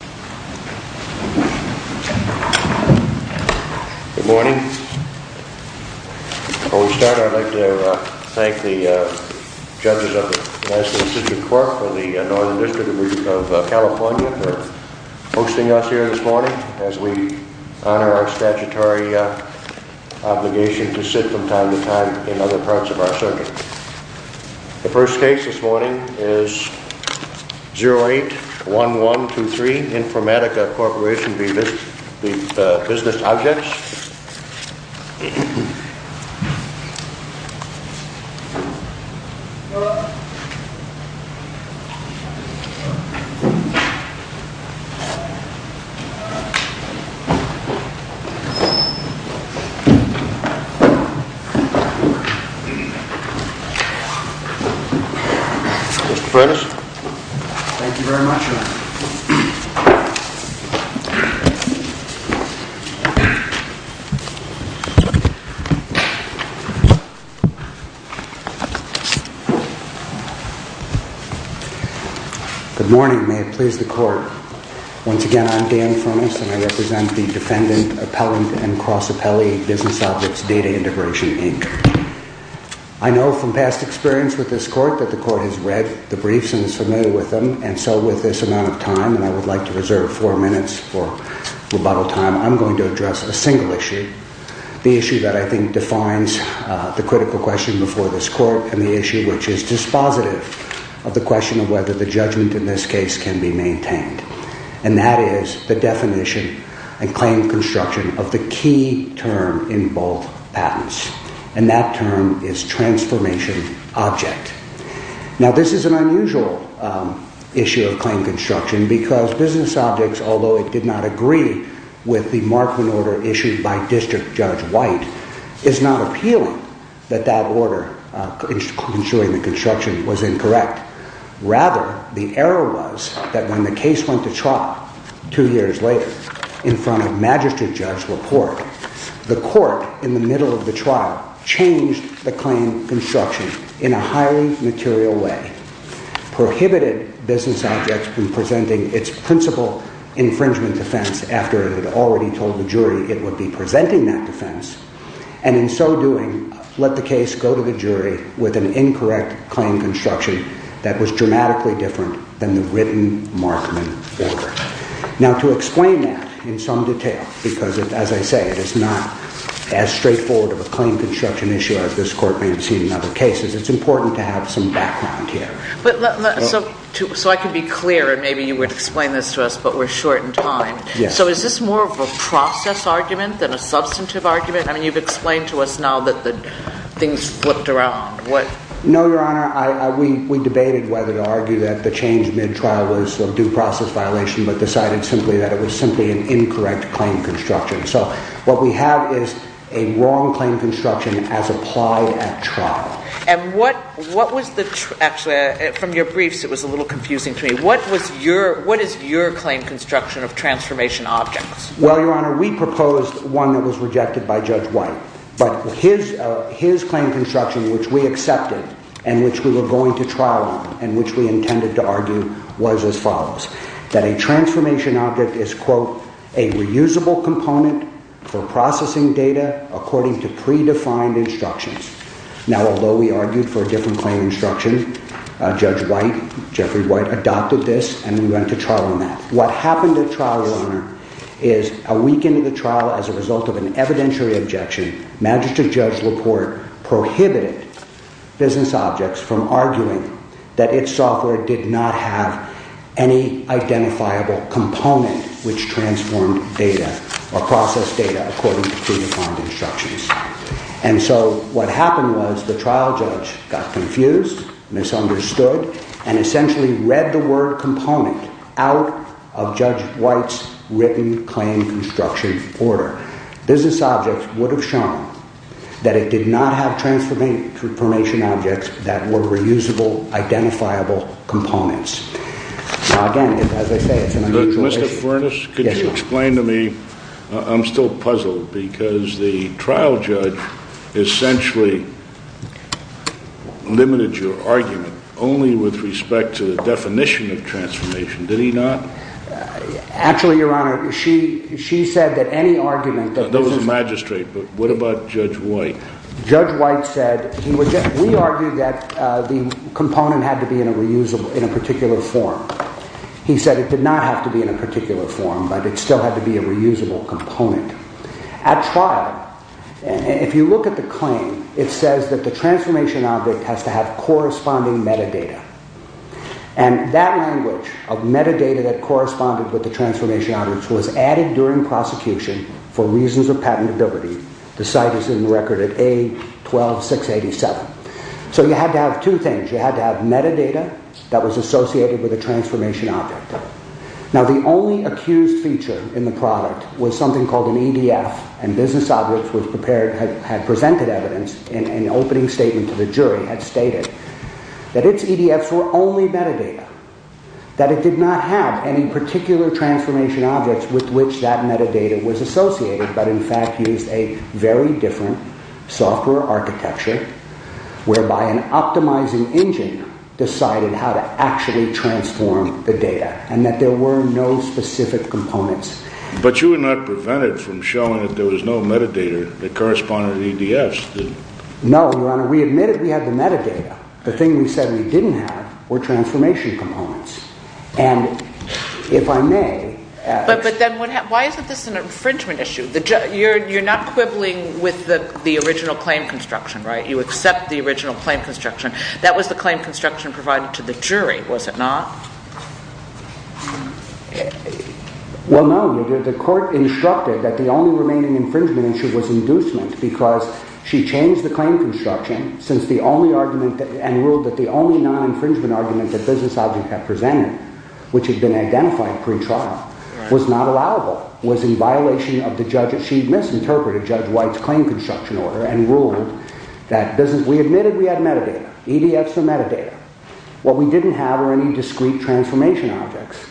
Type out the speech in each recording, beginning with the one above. Good morning. Before we start, I'd like to thank the judges of the National Institute of Cork and the Northern District of California for hosting us here this morning as we honor our statutory obligation to sit from time to time in other parts of our circuit. The first case this morning is 081123 Informatica Corp v. Business Objects. Mr. Furness. Thank you very much, Your Honor. Good morning. May it please the court. Once again, I'm Dan Furness and I represent the defendant, appellant, and cross-appellee Business Objects Data Integration, Inc. I know from past experience with this court that the court has read the briefs and is familiar with them, and so with this amount of time, and I would like to reserve four minutes for rebuttal time, I'm going to address a single issue. The issue that I think defines the critical question before this court and the issue which is dispositive of the question of whether the judgment in this case can be maintained. And that is the definition and claim construction of the key term in both patents. And that term is transformation object. Now, this is an unusual issue of claim construction because Business Objects, although it did not agree with the Markman order issued by District Judge White, is not appealing that that order, ensuring the construction, was incorrect. Rather, the error was that when the case went to trial two years later in front of Magistrate Judge LaPorte, the court in the middle of the trial changed the claim construction in a highly material way, prohibited Business Objects from presenting its principal infringement defense after it had already told the jury it would be presenting that defense, and in so doing, let the case go to the jury with an incorrect claim construction that was dramatically different than the written Markman order. Now, to explain that in some detail, because as I say, it is not as straightforward of a claim construction issue as this court may have seen in other cases, it's important to have some background here. So I can be clear, and maybe you would explain this to us, but we're short in time. So is this more of a process argument than a substantive argument? I mean, you've explained to us now that things flipped around. No, Your Honor. We debated whether to argue that the change mid-trial was a due process violation, but decided simply that it was simply an incorrect claim construction. So what we have is a wrong claim construction as applied at trial. And what was the – actually, from your briefs, it was a little confusing to me. What was your – what is your claim construction of transformation objects? Well, Your Honor, we proposed one that was rejected by Judge White, but his claim construction, which we accepted and which we were going to trial on and which we intended to argue, was as follows. That a transformation object is, quote, a reusable component for processing data according to predefined instructions. Now, although we argued for a different claim construction, Judge White, Jeffrey White, adopted this and we went to trial on that. What happened at trial, Your Honor, is a week into the trial, as a result of an evidentiary objection, Magistrate Judge LaPorte prohibited business objects from arguing that its software did not have any identifiable component which transformed data or processed data according to predefined instructions. And so what happened was the trial judge got confused, misunderstood, and essentially read the word component out of Judge White's written claim construction order. Business objects would have shown that it did not have transformation objects that were reusable, identifiable components. Now, again, as I say, it's an unusual issue. Mr. Furness, could you explain to me – I'm still puzzled because the trial judge essentially limited your argument only with respect to the definition of transformation, did he not? Actually, Your Honor, she said that any argument that – That was the magistrate, but what about Judge White? Judge White said – we argued that the component had to be in a particular form. He said it did not have to be in a particular form, but it still had to be a reusable component. At trial, if you look at the claim, it says that the transformation object has to have corresponding metadata. And that language of metadata that corresponded with the transformation object was added during prosecution for reasons of patentability. The site is in the record at A12687. So you had to have two things. You had to have metadata that was associated with the transformation object. Now, the only accused feature in the product was something called an EDF. And business objects had presented evidence in an opening statement to the jury that stated that its EDFs were only metadata, that it did not have any particular transformation objects with which that metadata was associated, but in fact used a very different software architecture, whereby an optimizing engine decided how to actually transform the data, and that there were no specific components. But you were not prevented from showing that there was no metadata that corresponded to the EDFs, did you? No, Your Honor. We admitted we had the metadata. The thing we said we didn't have were transformation components. And if I may… But then why isn't this an infringement issue? You're not quibbling with the original claim construction, right? You accept the original claim construction. That was the claim construction provided to the jury, was it not? Well, no. The court instructed that the only remaining infringement issue was inducement, because she changed the claim construction and ruled that the only non-infringement argument that business object had presented, which had been identified pre-trial, was not allowable, was in violation of the judge's… She misinterpreted Judge White's claim construction order and ruled that business… We admitted we had metadata, EDFs for metadata. What we didn't have were any discrete transformation objects.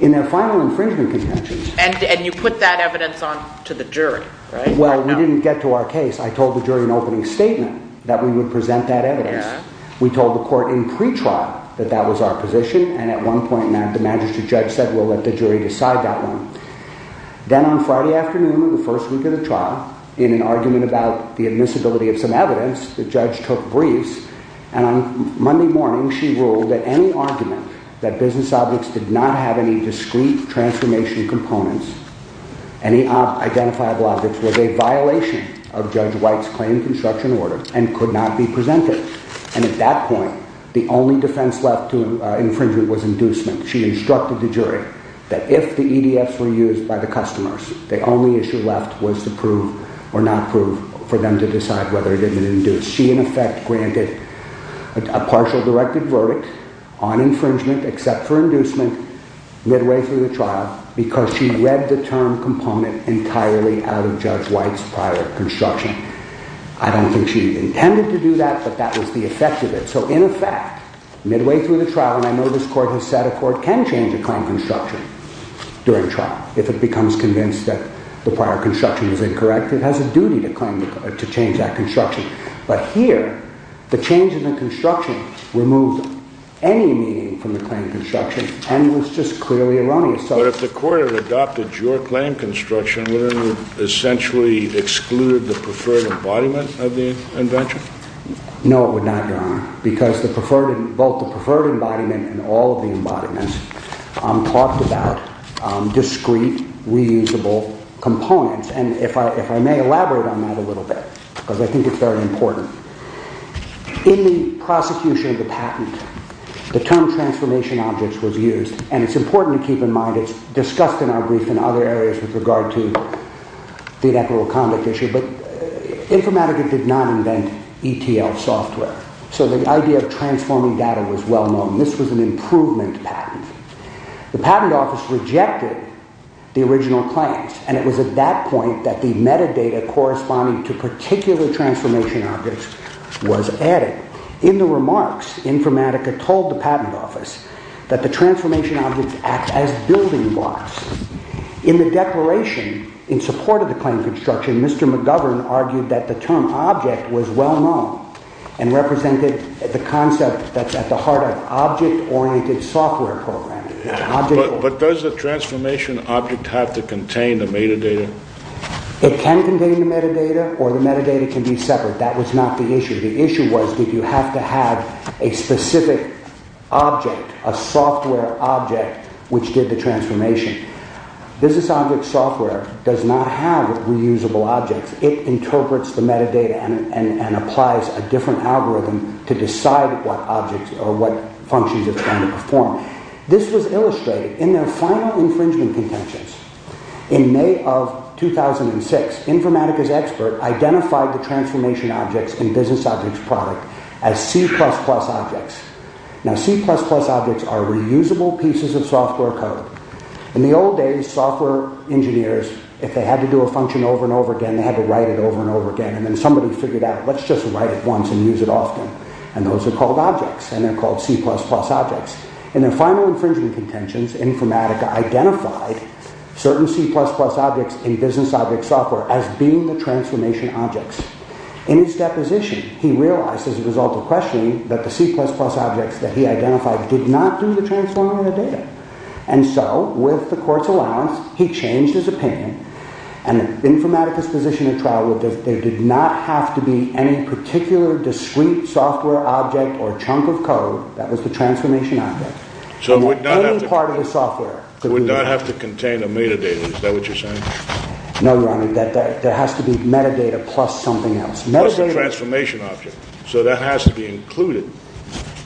In their final infringement contentions… And you put that evidence on to the jury, right? Well, we didn't get to our case. I told the jury in opening statement that we would present that evidence. We told the court in pre-trial that that was our position, and at one point the magistrate judge said, we'll let the jury decide that one. Then on Friday afternoon in the first week of the trial, in an argument about the admissibility of some evidence, the judge took briefs, and on Monday morning she ruled that any argument that business objects did not have any discrete transformation components, any identifiable objects, was a violation of Judge White's claim construction order and could not be presented. And at that point, the only defense left to infringement was inducement. She instructed the jury that if the EDFs were used by the customers, the only issue left was to prove or not prove for them to decide whether it had been induced. She, in effect, granted a partial directed verdict on infringement, except for inducement, midway through the trial, because she read the term component entirely out of Judge White's prior construction. I don't think she intended to do that, but that was the effect of it. So, in effect, midway through the trial, and I know this court has said a court can change a claim construction during trial if it becomes convinced that the prior construction is incorrect. It has a duty to change that construction. But here, the change in the construction removed any meaning from the claim construction and was just clearly erroneous. But if the court had adopted your claim construction, would it have essentially excluded the preferred embodiment of the invention? No, it would not, Your Honor, because both the preferred embodiment and all of the embodiments talked about discrete, reusable components. And if I may elaborate on that a little bit, because I think it's very important. In the prosecution of the patent, the term transformation objects was used, and it's important to keep in mind it's discussed in our brief in other areas with regard to the inequitable conduct issue, but Informatica did not invent ETL software. So the idea of transforming data was well known. This was an improvement patent. The patent office rejected the original claims, and it was at that point that the metadata corresponding to particular transformation objects was added. In the remarks, Informatica told the patent office that the transformation objects act as building blocks. In the declaration, in support of the claim construction, Mr. McGovern argued that the term object was well known and represented the concept that's at the heart of object-oriented software programming. But does the transformation object have to contain the metadata? It can contain the metadata, or the metadata can be separate. That was not the issue. The issue was did you have to have a specific object, a software object, which did the transformation. Business object software does not have reusable objects. It interprets the metadata and applies a different algorithm to decide what functions it's going to perform. This was illustrated in their final infringement contentions. In May of 2006, Informatica's expert identified the transformation objects and business objects product as C++ objects. Now C++ objects are reusable pieces of software code. In the old days, software engineers, if they had to do a function over and over again, they would write it over and over again. And then somebody figured out, let's just write it once and use it often. And those are called objects, and they're called C++ objects. In their final infringement contentions, Informatica identified certain C++ objects in business object software as being the transformation objects. In his deposition, he realized as a result of questioning that the C++ objects that he identified did not do the transforming of the data. And so, with the court's allowance, he changed his opinion. And Informatica's position at trial was that there did not have to be any particular discrete software object or chunk of code that was the transformation object. Any part of the software. It would not have to contain a metadata, is that what you're saying? No, Your Honor. There has to be metadata plus something else. Plus the transformation object. So that has to be included.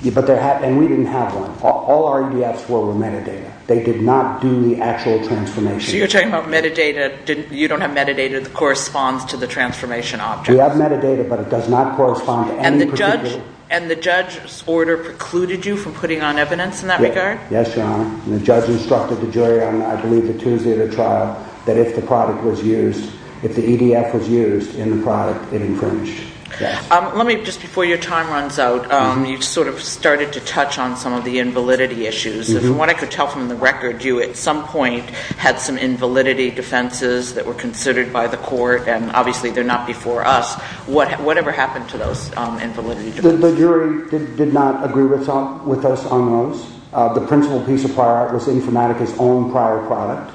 And we didn't have one. All RDFs were metadata. They did not do the actual transformation. So you're talking about metadata. You don't have metadata that corresponds to the transformation object. We have metadata, but it does not correspond to any particular... And the judge's order precluded you from putting on evidence in that regard? Yes, Your Honor. The judge instructed the jury on, I believe, the Tuesday of the trial that if the product was used, if the EDF was used in the product, it infringed. Let me, just before your time runs out, you sort of started to touch on some of the invalidity issues. From what I could tell from the record, you, at some point, had some invalidity defenses that were considered by the court, and obviously they're not before us. Whatever happened to those invalidity defenses? The jury did not agree with us on those. The principal piece of prior art was Informatica's own prior product,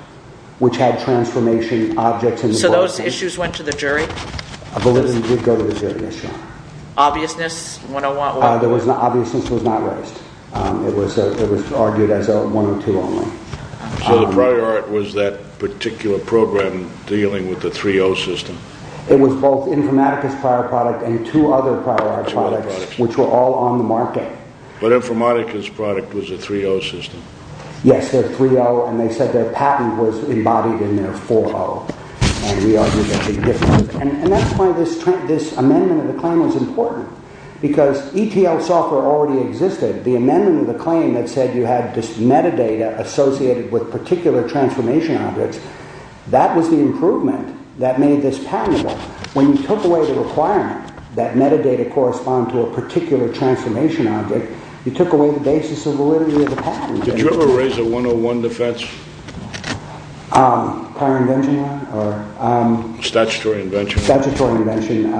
which had transformation objects in the process. So those issues went to the jury? Validity did go to the jury, yes, Your Honor. Obviousness? Obviousness was not raised. It was argued as a 102 only. So the prior art was that particular program dealing with the 3-0 system? It was both Informatica's prior product and two other prior art products, which were all on the market. But Informatica's product was a 3-0 system? Yes, they're 3-0, and they said their patent was embodied in their 4-0. And that's why this amendment of the claim was important, because ETL software already existed. The amendment of the claim that said you had this metadata associated with particular transformation objects, that was the improvement that made this patentable. When you took away the requirement that metadata correspond to a particular transformation object, you took away the basis of validity of the patent. Did you ever raise a 101 defense? Prior invention, Your Honor? Statutory invention. Statutory invention.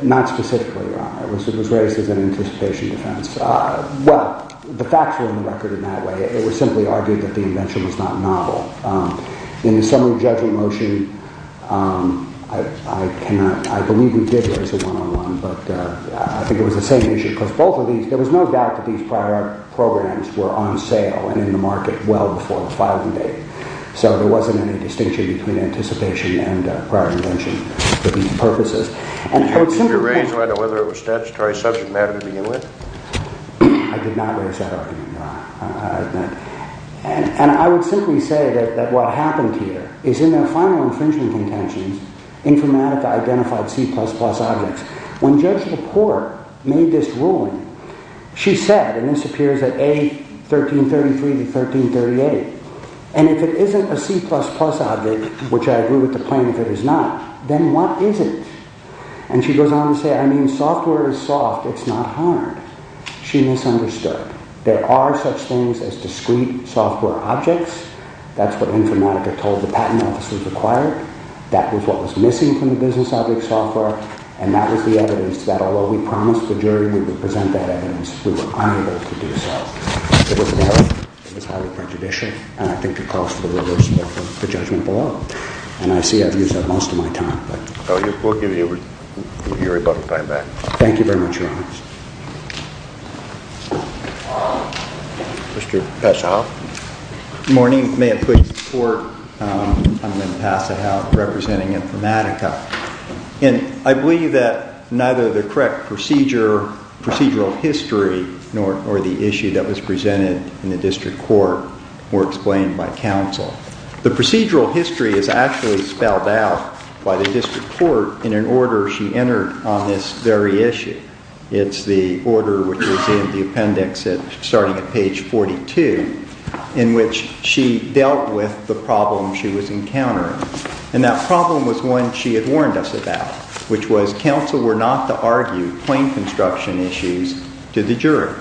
Not specifically, Your Honor. It was raised as an anticipation defense. Well, the facts were on the record in that way. It was simply argued that the invention was not novel. In the summary judgment motion, I believe we did raise a 101, but I think it was the same issue. There was no doubt that these prior programs were on sale and in the market well before the filing date. So there wasn't any distinction between anticipation and prior invention for these purposes. Did you ever raise whether it was statutory subject matter to begin with? I did not raise that argument, Your Honor. And I would simply say that what happened here is in their final infringement contentions, Informatica identified C++ objects. When Judge LaPorte made this ruling, she said, and this appears at A1333 to A1338, and if it isn't a C++ object, which I agree with the claim if it is not, then what is it? And she goes on to say, I mean, software is soft, it's not hard. She misunderstood. There are such things as discrete software objects. That's what Informatica told the Patent Office was required. That was what was missing from the business object software. And that was the evidence that although we promised the jury we would present that evidence, we were unable to do so. It was highly prejudicial, and I think it calls for the reversal of the judgment below. And I see I've used that most of my time. We'll give you your rebuttal time back. Thank you very much, Your Honor. Mr. Passahoff. Good morning. May it please the Court, I'm Ben Passahoff representing Informatica. And I believe that neither the correct procedural history nor the issue that was presented in the district court were explained by counsel. The procedural history is actually spelled out by the district court in an order she entered on this very issue. It's the order which was in the appendix starting at page 42, in which she dealt with the problem she was encountering. And that problem was one she had warned us about, which was counsel were not to argue plain construction issues to the jury.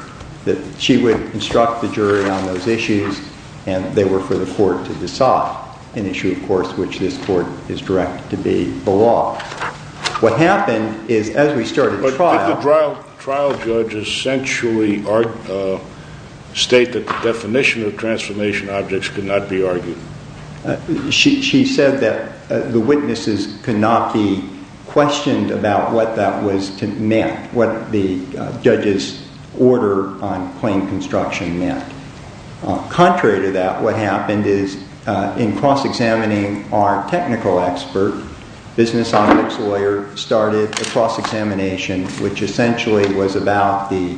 She would instruct the jury on those issues, and they were for the court to decide, an issue, of course, which this court is directed to be the law. What happened is, as we started the trial... But did the trial judge essentially state that the definition of transformation objects could not be argued? She said that the witnesses could not be questioned about what that meant, what the judge's order on plain construction meant. Contrary to that, what happened is, in cross-examining our technical expert, business objects lawyer started a cross-examination, which essentially was about the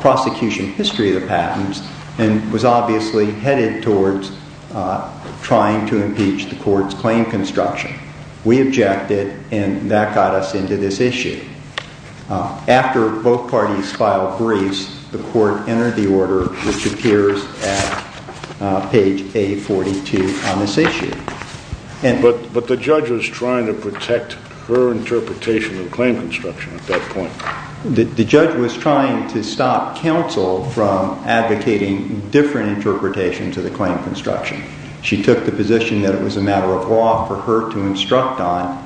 prosecution history of the patents, and was obviously headed towards trying to impeach the court's plain construction. We objected, and that got us into this issue. After both parties filed briefs, the court entered the order, which appears at page A42 on this issue. But the judge was trying to protect her interpretation of plain construction at that point. The judge was trying to stop counsel from advocating different interpretations of the plain construction. She took the position that it was a matter of law for her to instruct on,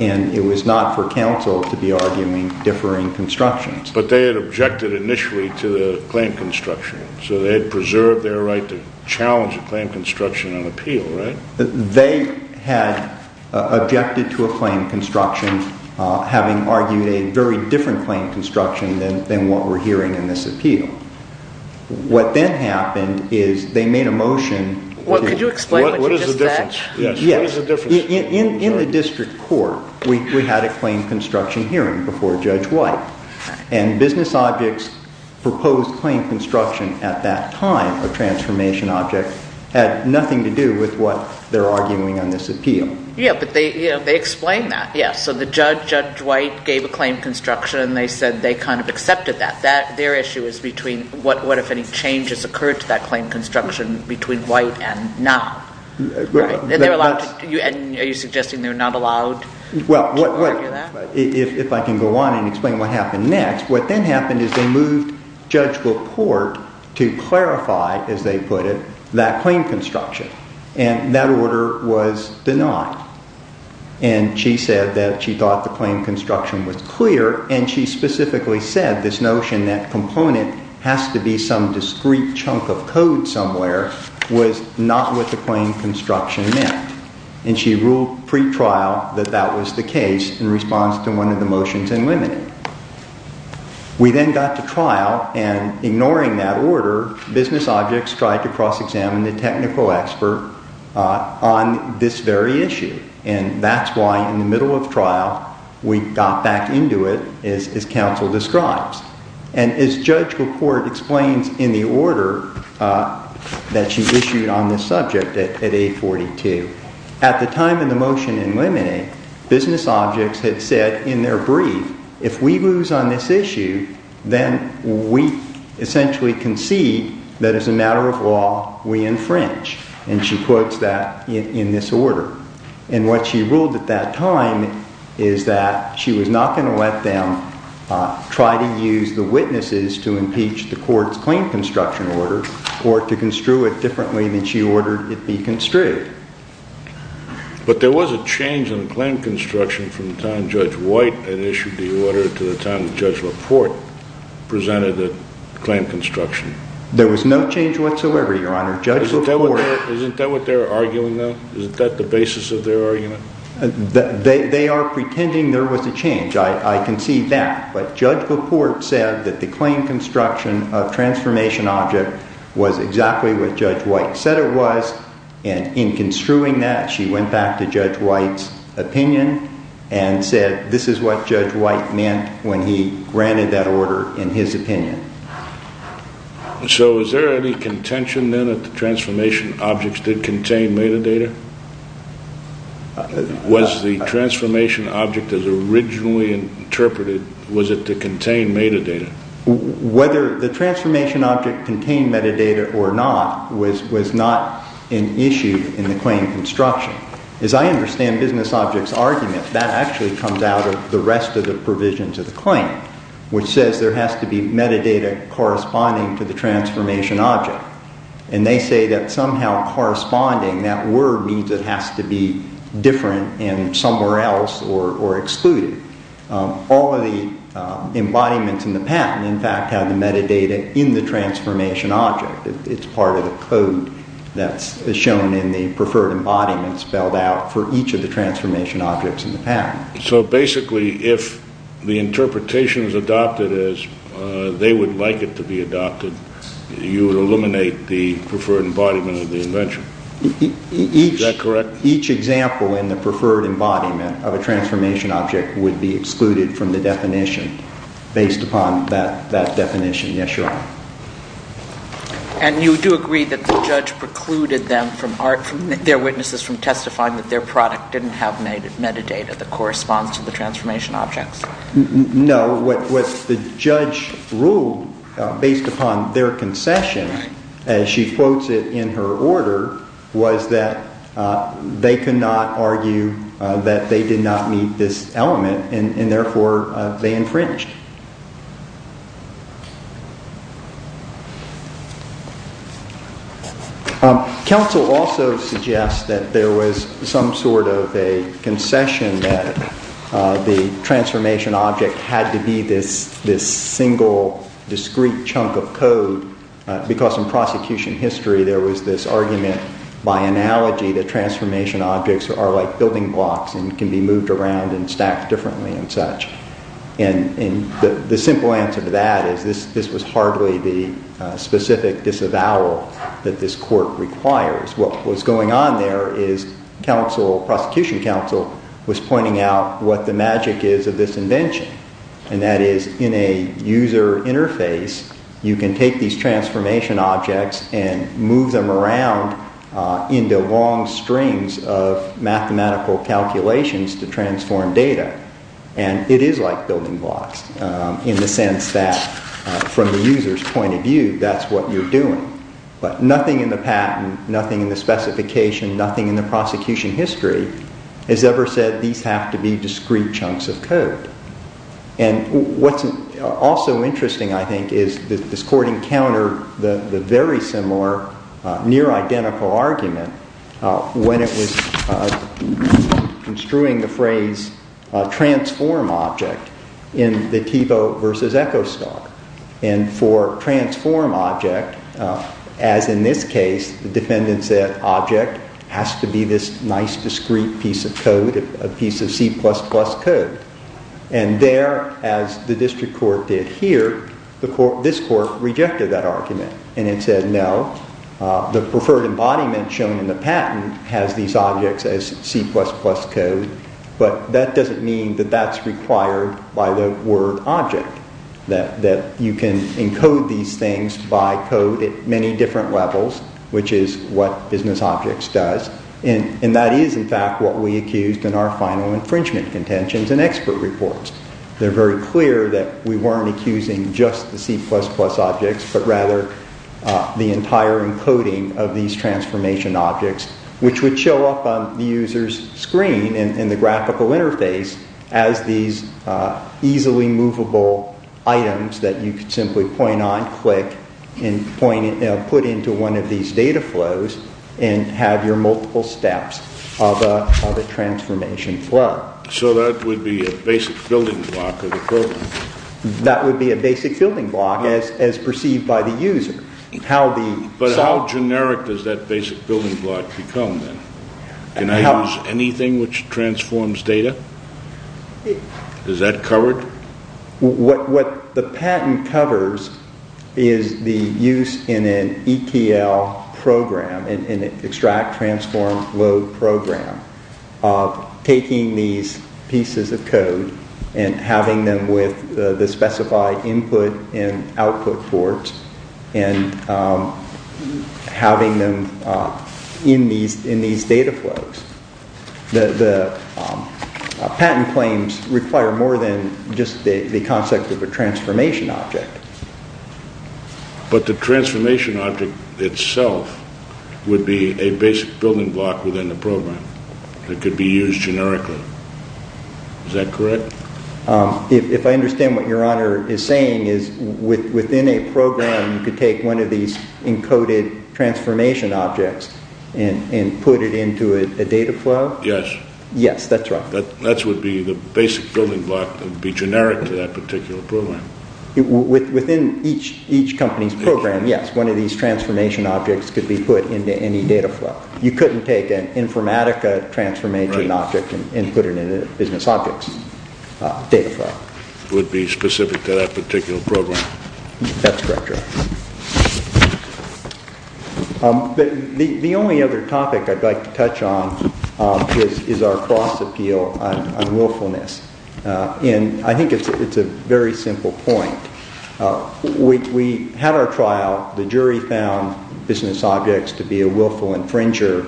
and it was not for counsel to be arguing differing constructions. But they had objected initially to the plain construction, so they had preserved their right to challenge a plain construction on appeal, right? They had objected to a plain construction, having argued a very different plain construction than what we're hearing in this appeal. What then happened is they made a motion... Could you explain what you just said? What is the difference? In the district court, we had a plain construction hearing before Judge White, and business objects proposed plain construction at that time, a transformation object, had nothing to do with what they're arguing on this appeal. Yeah, but they explained that. Yeah, so the judge, Judge White, gave a plain construction, and they said they kind of accepted that. Their issue is between what if any changes occurred to that plain construction between White and not. And are you suggesting they're not allowed to argue that? If I can go on and explain what happened next, what then happened is they moved Judge LaPorte to clarify, as they put it, that plain construction. And that order was denied. And she said that she thought the plain construction was clear, and she specifically said this notion that component has to be some discrete chunk of code somewhere was not what the plain construction meant. And she ruled pre-trial that that was the case in response to one of the motions and limited. We then got to trial, and ignoring that order, business objects tried to cross-examine the technical expert on this very issue. And that's why, in the middle of trial, we got back into it, as counsel describes. And as Judge LaPorte explains in the order that she issued on this subject at 842, at the time of the motion in limine, business objects had said in their brief, if we lose on this issue, then we essentially concede that as a matter of law, we infringe. And she quotes that in this order. And what she ruled at that time is that she was not going to let them try to use the witnesses to impeach the court's plain construction order or to construe it differently than she ordered it be construed. But there was a change in the plain construction from the time Judge White had issued the order to the time Judge LaPorte presented the plain construction. Isn't that what they're arguing, though? Isn't that the basis of their argument? They are pretending there was a change. I concede that. But Judge LaPorte said that the plain construction of transformation object was exactly what Judge White said it was. And in construing that, she went back to Judge White's opinion and said this is what Judge White meant when he granted that order in his opinion. So is there any contention, then, that the transformation objects did contain metadata? Was the transformation object as originally interpreted, was it to contain metadata? Whether the transformation object contained metadata or not was not an issue in the plain construction. As I understand business objects' argument, that actually comes out of the rest of the provisions of the claim, which says there has to be metadata corresponding to the transformation object. And they say that somehow corresponding, that word means it has to be different and somewhere else or excluded. All of the embodiments in the patent, in fact, have the metadata in the transformation object. It's part of the code that's shown in the preferred embodiment spelled out for each of the transformation objects in the patent. So basically, if the interpretation is adopted as they would like it to be adopted, you would eliminate the preferred embodiment of the invention. Is that correct? Each example in the preferred embodiment of a transformation object would be excluded from the definition based upon that definition. Yes, Your Honor. And you do agree that the judge precluded them from, their witnesses from testifying that their product didn't have metadata that corresponds to the transformation objects? No, what the judge ruled based upon their concession, as she quotes it in her order, was that they could not argue that they did not meet this element and therefore they infringed. Counsel also suggests that there was some sort of a concession that the transformation object had to be this single discrete chunk of code. Because in prosecution history, there was this argument by analogy that transformation objects are like building blocks and can be moved around and stacked differently and such. And the simple answer to that is this was hardly the specific disavowal that this court requires. What was going on there is prosecution counsel was pointing out what the magic is of this invention. And that is in a user interface, you can take these transformation objects and move them around into long strings of mathematical calculations to transform data. And it is like building blocks in the sense that from the user's point of view, that's what you're doing. But nothing in the patent, nothing in the specification, nothing in the prosecution history has ever said these have to be discrete chunks of code. And what's also interesting, I think, is this court encountered the very similar near-identical argument when it was construing the phrase transform object in the Thiebaud versus Echostalk. And for transform object, as in this case, the defendant said object has to be this nice discrete piece of code, a piece of C++ code. And there, as the district court did here, this court rejected that argument. And it said no, the preferred embodiment shown in the patent has these objects as C++ code. But that doesn't mean that that's required by the word object, that you can encode these things by code at many different levels, which is what business objects does. And that is, in fact, what we accused in our final infringement contentions and expert reports. They're very clear that we weren't accusing just the C++ objects, but rather the entire encoding of these transformation objects, which would show up on the user's screen in the graphical interface as these easily movable items that you could simply point on, click, and put into one of these data flows and have your multiple steps of a transformation flow. So that would be a basic building block of the program? That would be a basic building block as perceived by the user. But how generic does that basic building block become then? Can I use anything which transforms data? Is that covered? What the patent covers is the use in an ETL program, an extract, transform, load program, taking these pieces of code and having them with the specified input and output ports and having them in these data flows. The patent claims require more than just the concept of a transformation object. But the transformation object itself would be a basic building block within the program that could be used generically. Is that correct? If I understand what Your Honor is saying, within a program you could take one of these encoded transformation objects and put it into a data flow? Yes. That would be the basic building block that would be generic to that particular program. Within each company's program, yes, one of these transformation objects could be put into any data flow. You couldn't take an Informatica transformation object and put it into business objects. It would be specific to that particular program. That's correct, Your Honor. The only other topic I'd like to touch on is our cross appeal on willfulness. I think it's a very simple point. We had our trial. The jury found business objects to be a willful infringer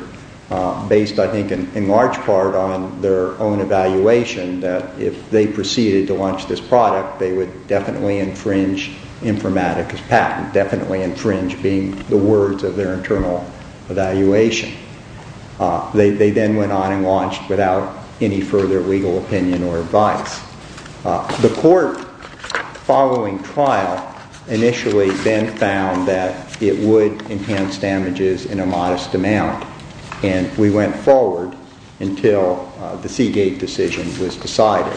based, I think, in large part on their own evaluation that if they proceeded to launch this product, they would definitely infringe Informatica's patent, definitely infringe being the words of their internal evaluation. They then went on and launched without any further legal opinion or advice. The court following trial initially then found that it would enhance damages in a modest amount. We went forward until the Seagate decision was decided.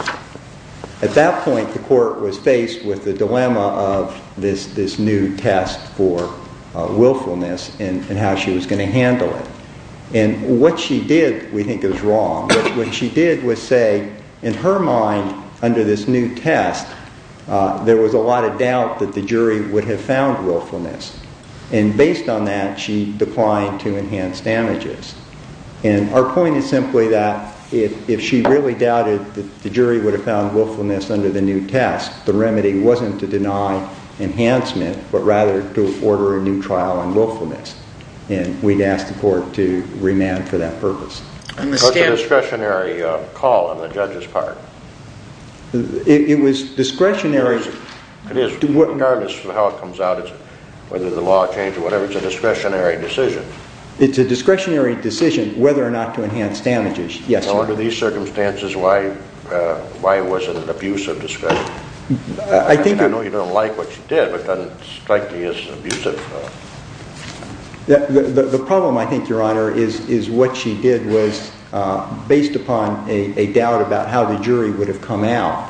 At that point, the court was faced with the dilemma of this new test for willfulness and how she was going to handle it. What she did, we think, was wrong. What she did was say, in her mind, under this new test, there was a lot of doubt that the jury would have found willfulness. Based on that, she declined to enhance damages. Our point is simply that if she really doubted that the jury would have found willfulness under the new test, the remedy wasn't to deny enhancement, but rather to order a new trial on willfulness. We'd ask the court to remand for that purpose. It was a discretionary call on the judge's part. It was discretionary. Regardless of how it comes out, whether the law changed or whatever, it's a discretionary decision. It's a discretionary decision whether or not to enhance damages. Under these circumstances, why wasn't it abusive discretion? I know you don't like what she did, but doesn't it strike you as abusive? The problem, I think, Your Honor, is what she did was, based upon a doubt about how the jury would have come out,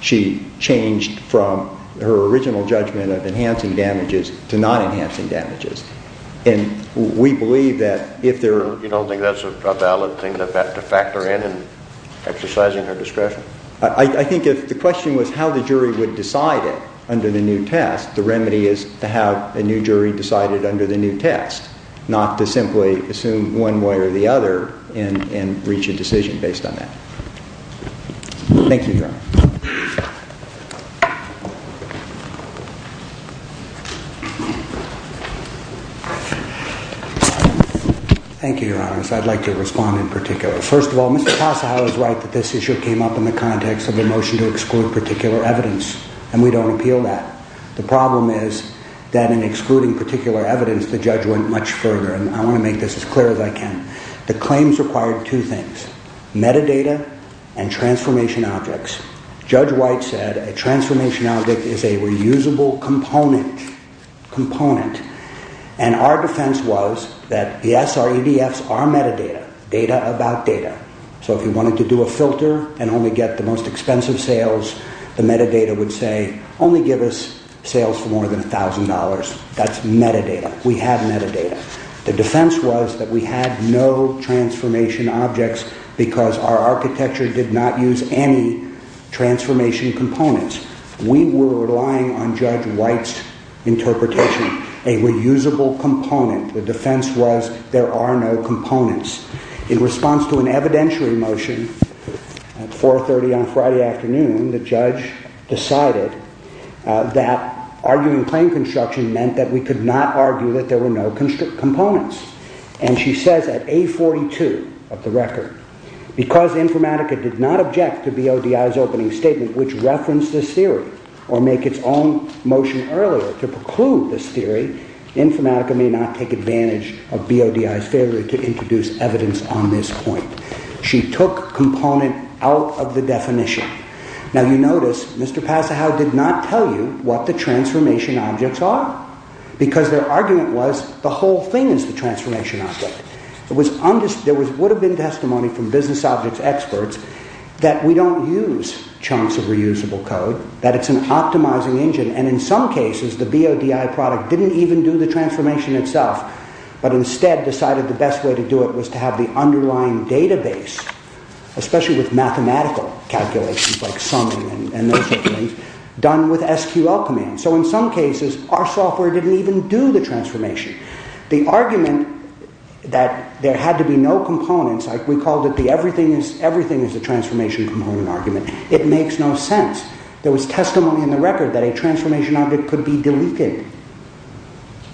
she changed from her original judgment of enhancing damages to not enhancing damages. And we believe that if there... You don't think that's a valid thing to factor in in exercising her discretion? I think if the question was how the jury would decide it under the new test, the remedy is to have a new jury decide it under the new test, not to simply assume one way or the other and reach a decision based on that. Thank you, Your Honor. Thank you. Thank you, Your Honors. I'd like to respond in particular. First of all, Mr. Tassajara is right that this issue came up in the context of the motion to exclude particular evidence, and we don't appeal that. The problem is that in excluding particular evidence, the judge went much further, and I want to make this as clear as I can. The claims required two things, metadata and transformation objects. Judge White said a transformation object is a reusable component, component. And our defense was that the SREDFs are metadata, data about data. So if you wanted to do a filter and only get the most expensive sales, the metadata would say, only give us sales for more than $1,000. That's metadata. We had metadata. The defense was that we had no transformation objects because our architecture did not use any transformation components. We were relying on Judge White's interpretation, a reusable component. The defense was there are no components. In response to an evidentiary motion at 4.30 on Friday afternoon, the judge decided that arguing claim construction meant that we could not argue that there were no components. And she says at 8.42 of the record, because Informatica did not object to BODI's opening statement which referenced this theory or make its own motion earlier to preclude this theory, Informatica may not take advantage of BODI's failure to introduce evidence on this point. She took component out of the definition. Now you notice Mr. Passahow did not tell you what the transformation objects are because their argument was the whole thing is the transformation object. There would have been testimony from business objects experts that we don't use chunks of reusable code, that it's an optimizing engine and in some cases the BODI product didn't even do the transformation itself but instead decided the best way to do it was to have the underlying database, especially with mathematical calculations like summing and those things, done with SQL command. So in some cases our software didn't even do the transformation. The argument that there had to be no components, like we called it the everything is the transformation component argument, it makes no sense. There was testimony in the record that a transformation object could be deleted.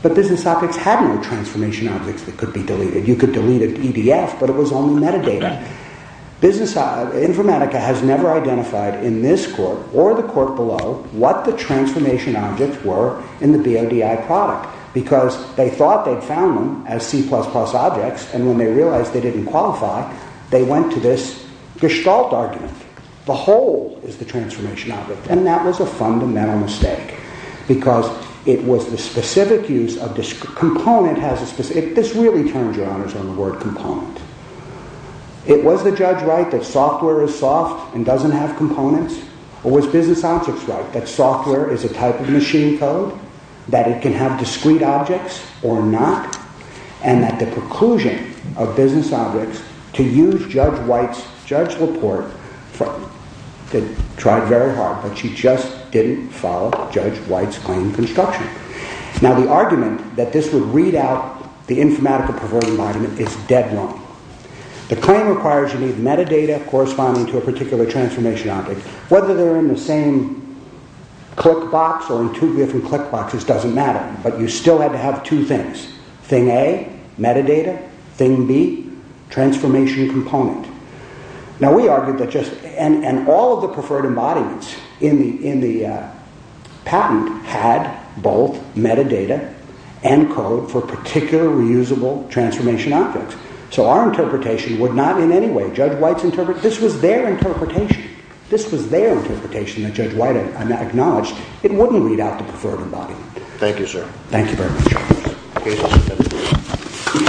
But business objects had no transformation objects that could be deleted. You could delete an EDF but it was only metadata. Informatica has never identified in this court or the court below what the transformation objects were in the BODI product because they thought they'd found them as C++ objects and when they realized they didn't qualify they went to this gestalt argument. The whole is the transformation object and that was a fundamental mistake because it was the specific use of this component. This really turns your honors on the word component. It was the judge right that software is soft and doesn't have components or was business objects right that software is a type of machine code, that it can have discrete objects or not, and that the preclusion of business objects to use Judge White's, Judge LaPorte tried very hard but she just didn't follow Judge White's claim construction. Now the argument that this would read out the informatica-perverting argument is dead wrong. The claim requires you need metadata corresponding to a particular transformation object. Whether they're in the same click box or in two different click boxes doesn't matter but you still have to have two things. Thing A, metadata. Thing B, transformation component. Now we argued that just, and all of the preferred embodiments in the patent had both metadata and code for particular reusable transformation objects. So our interpretation would not in any way, Judge White's interpretation, this was their interpretation, this was their interpretation that Judge White acknowledged, it wouldn't read out the preferred embodiment. Thank you sir. Thank you very much.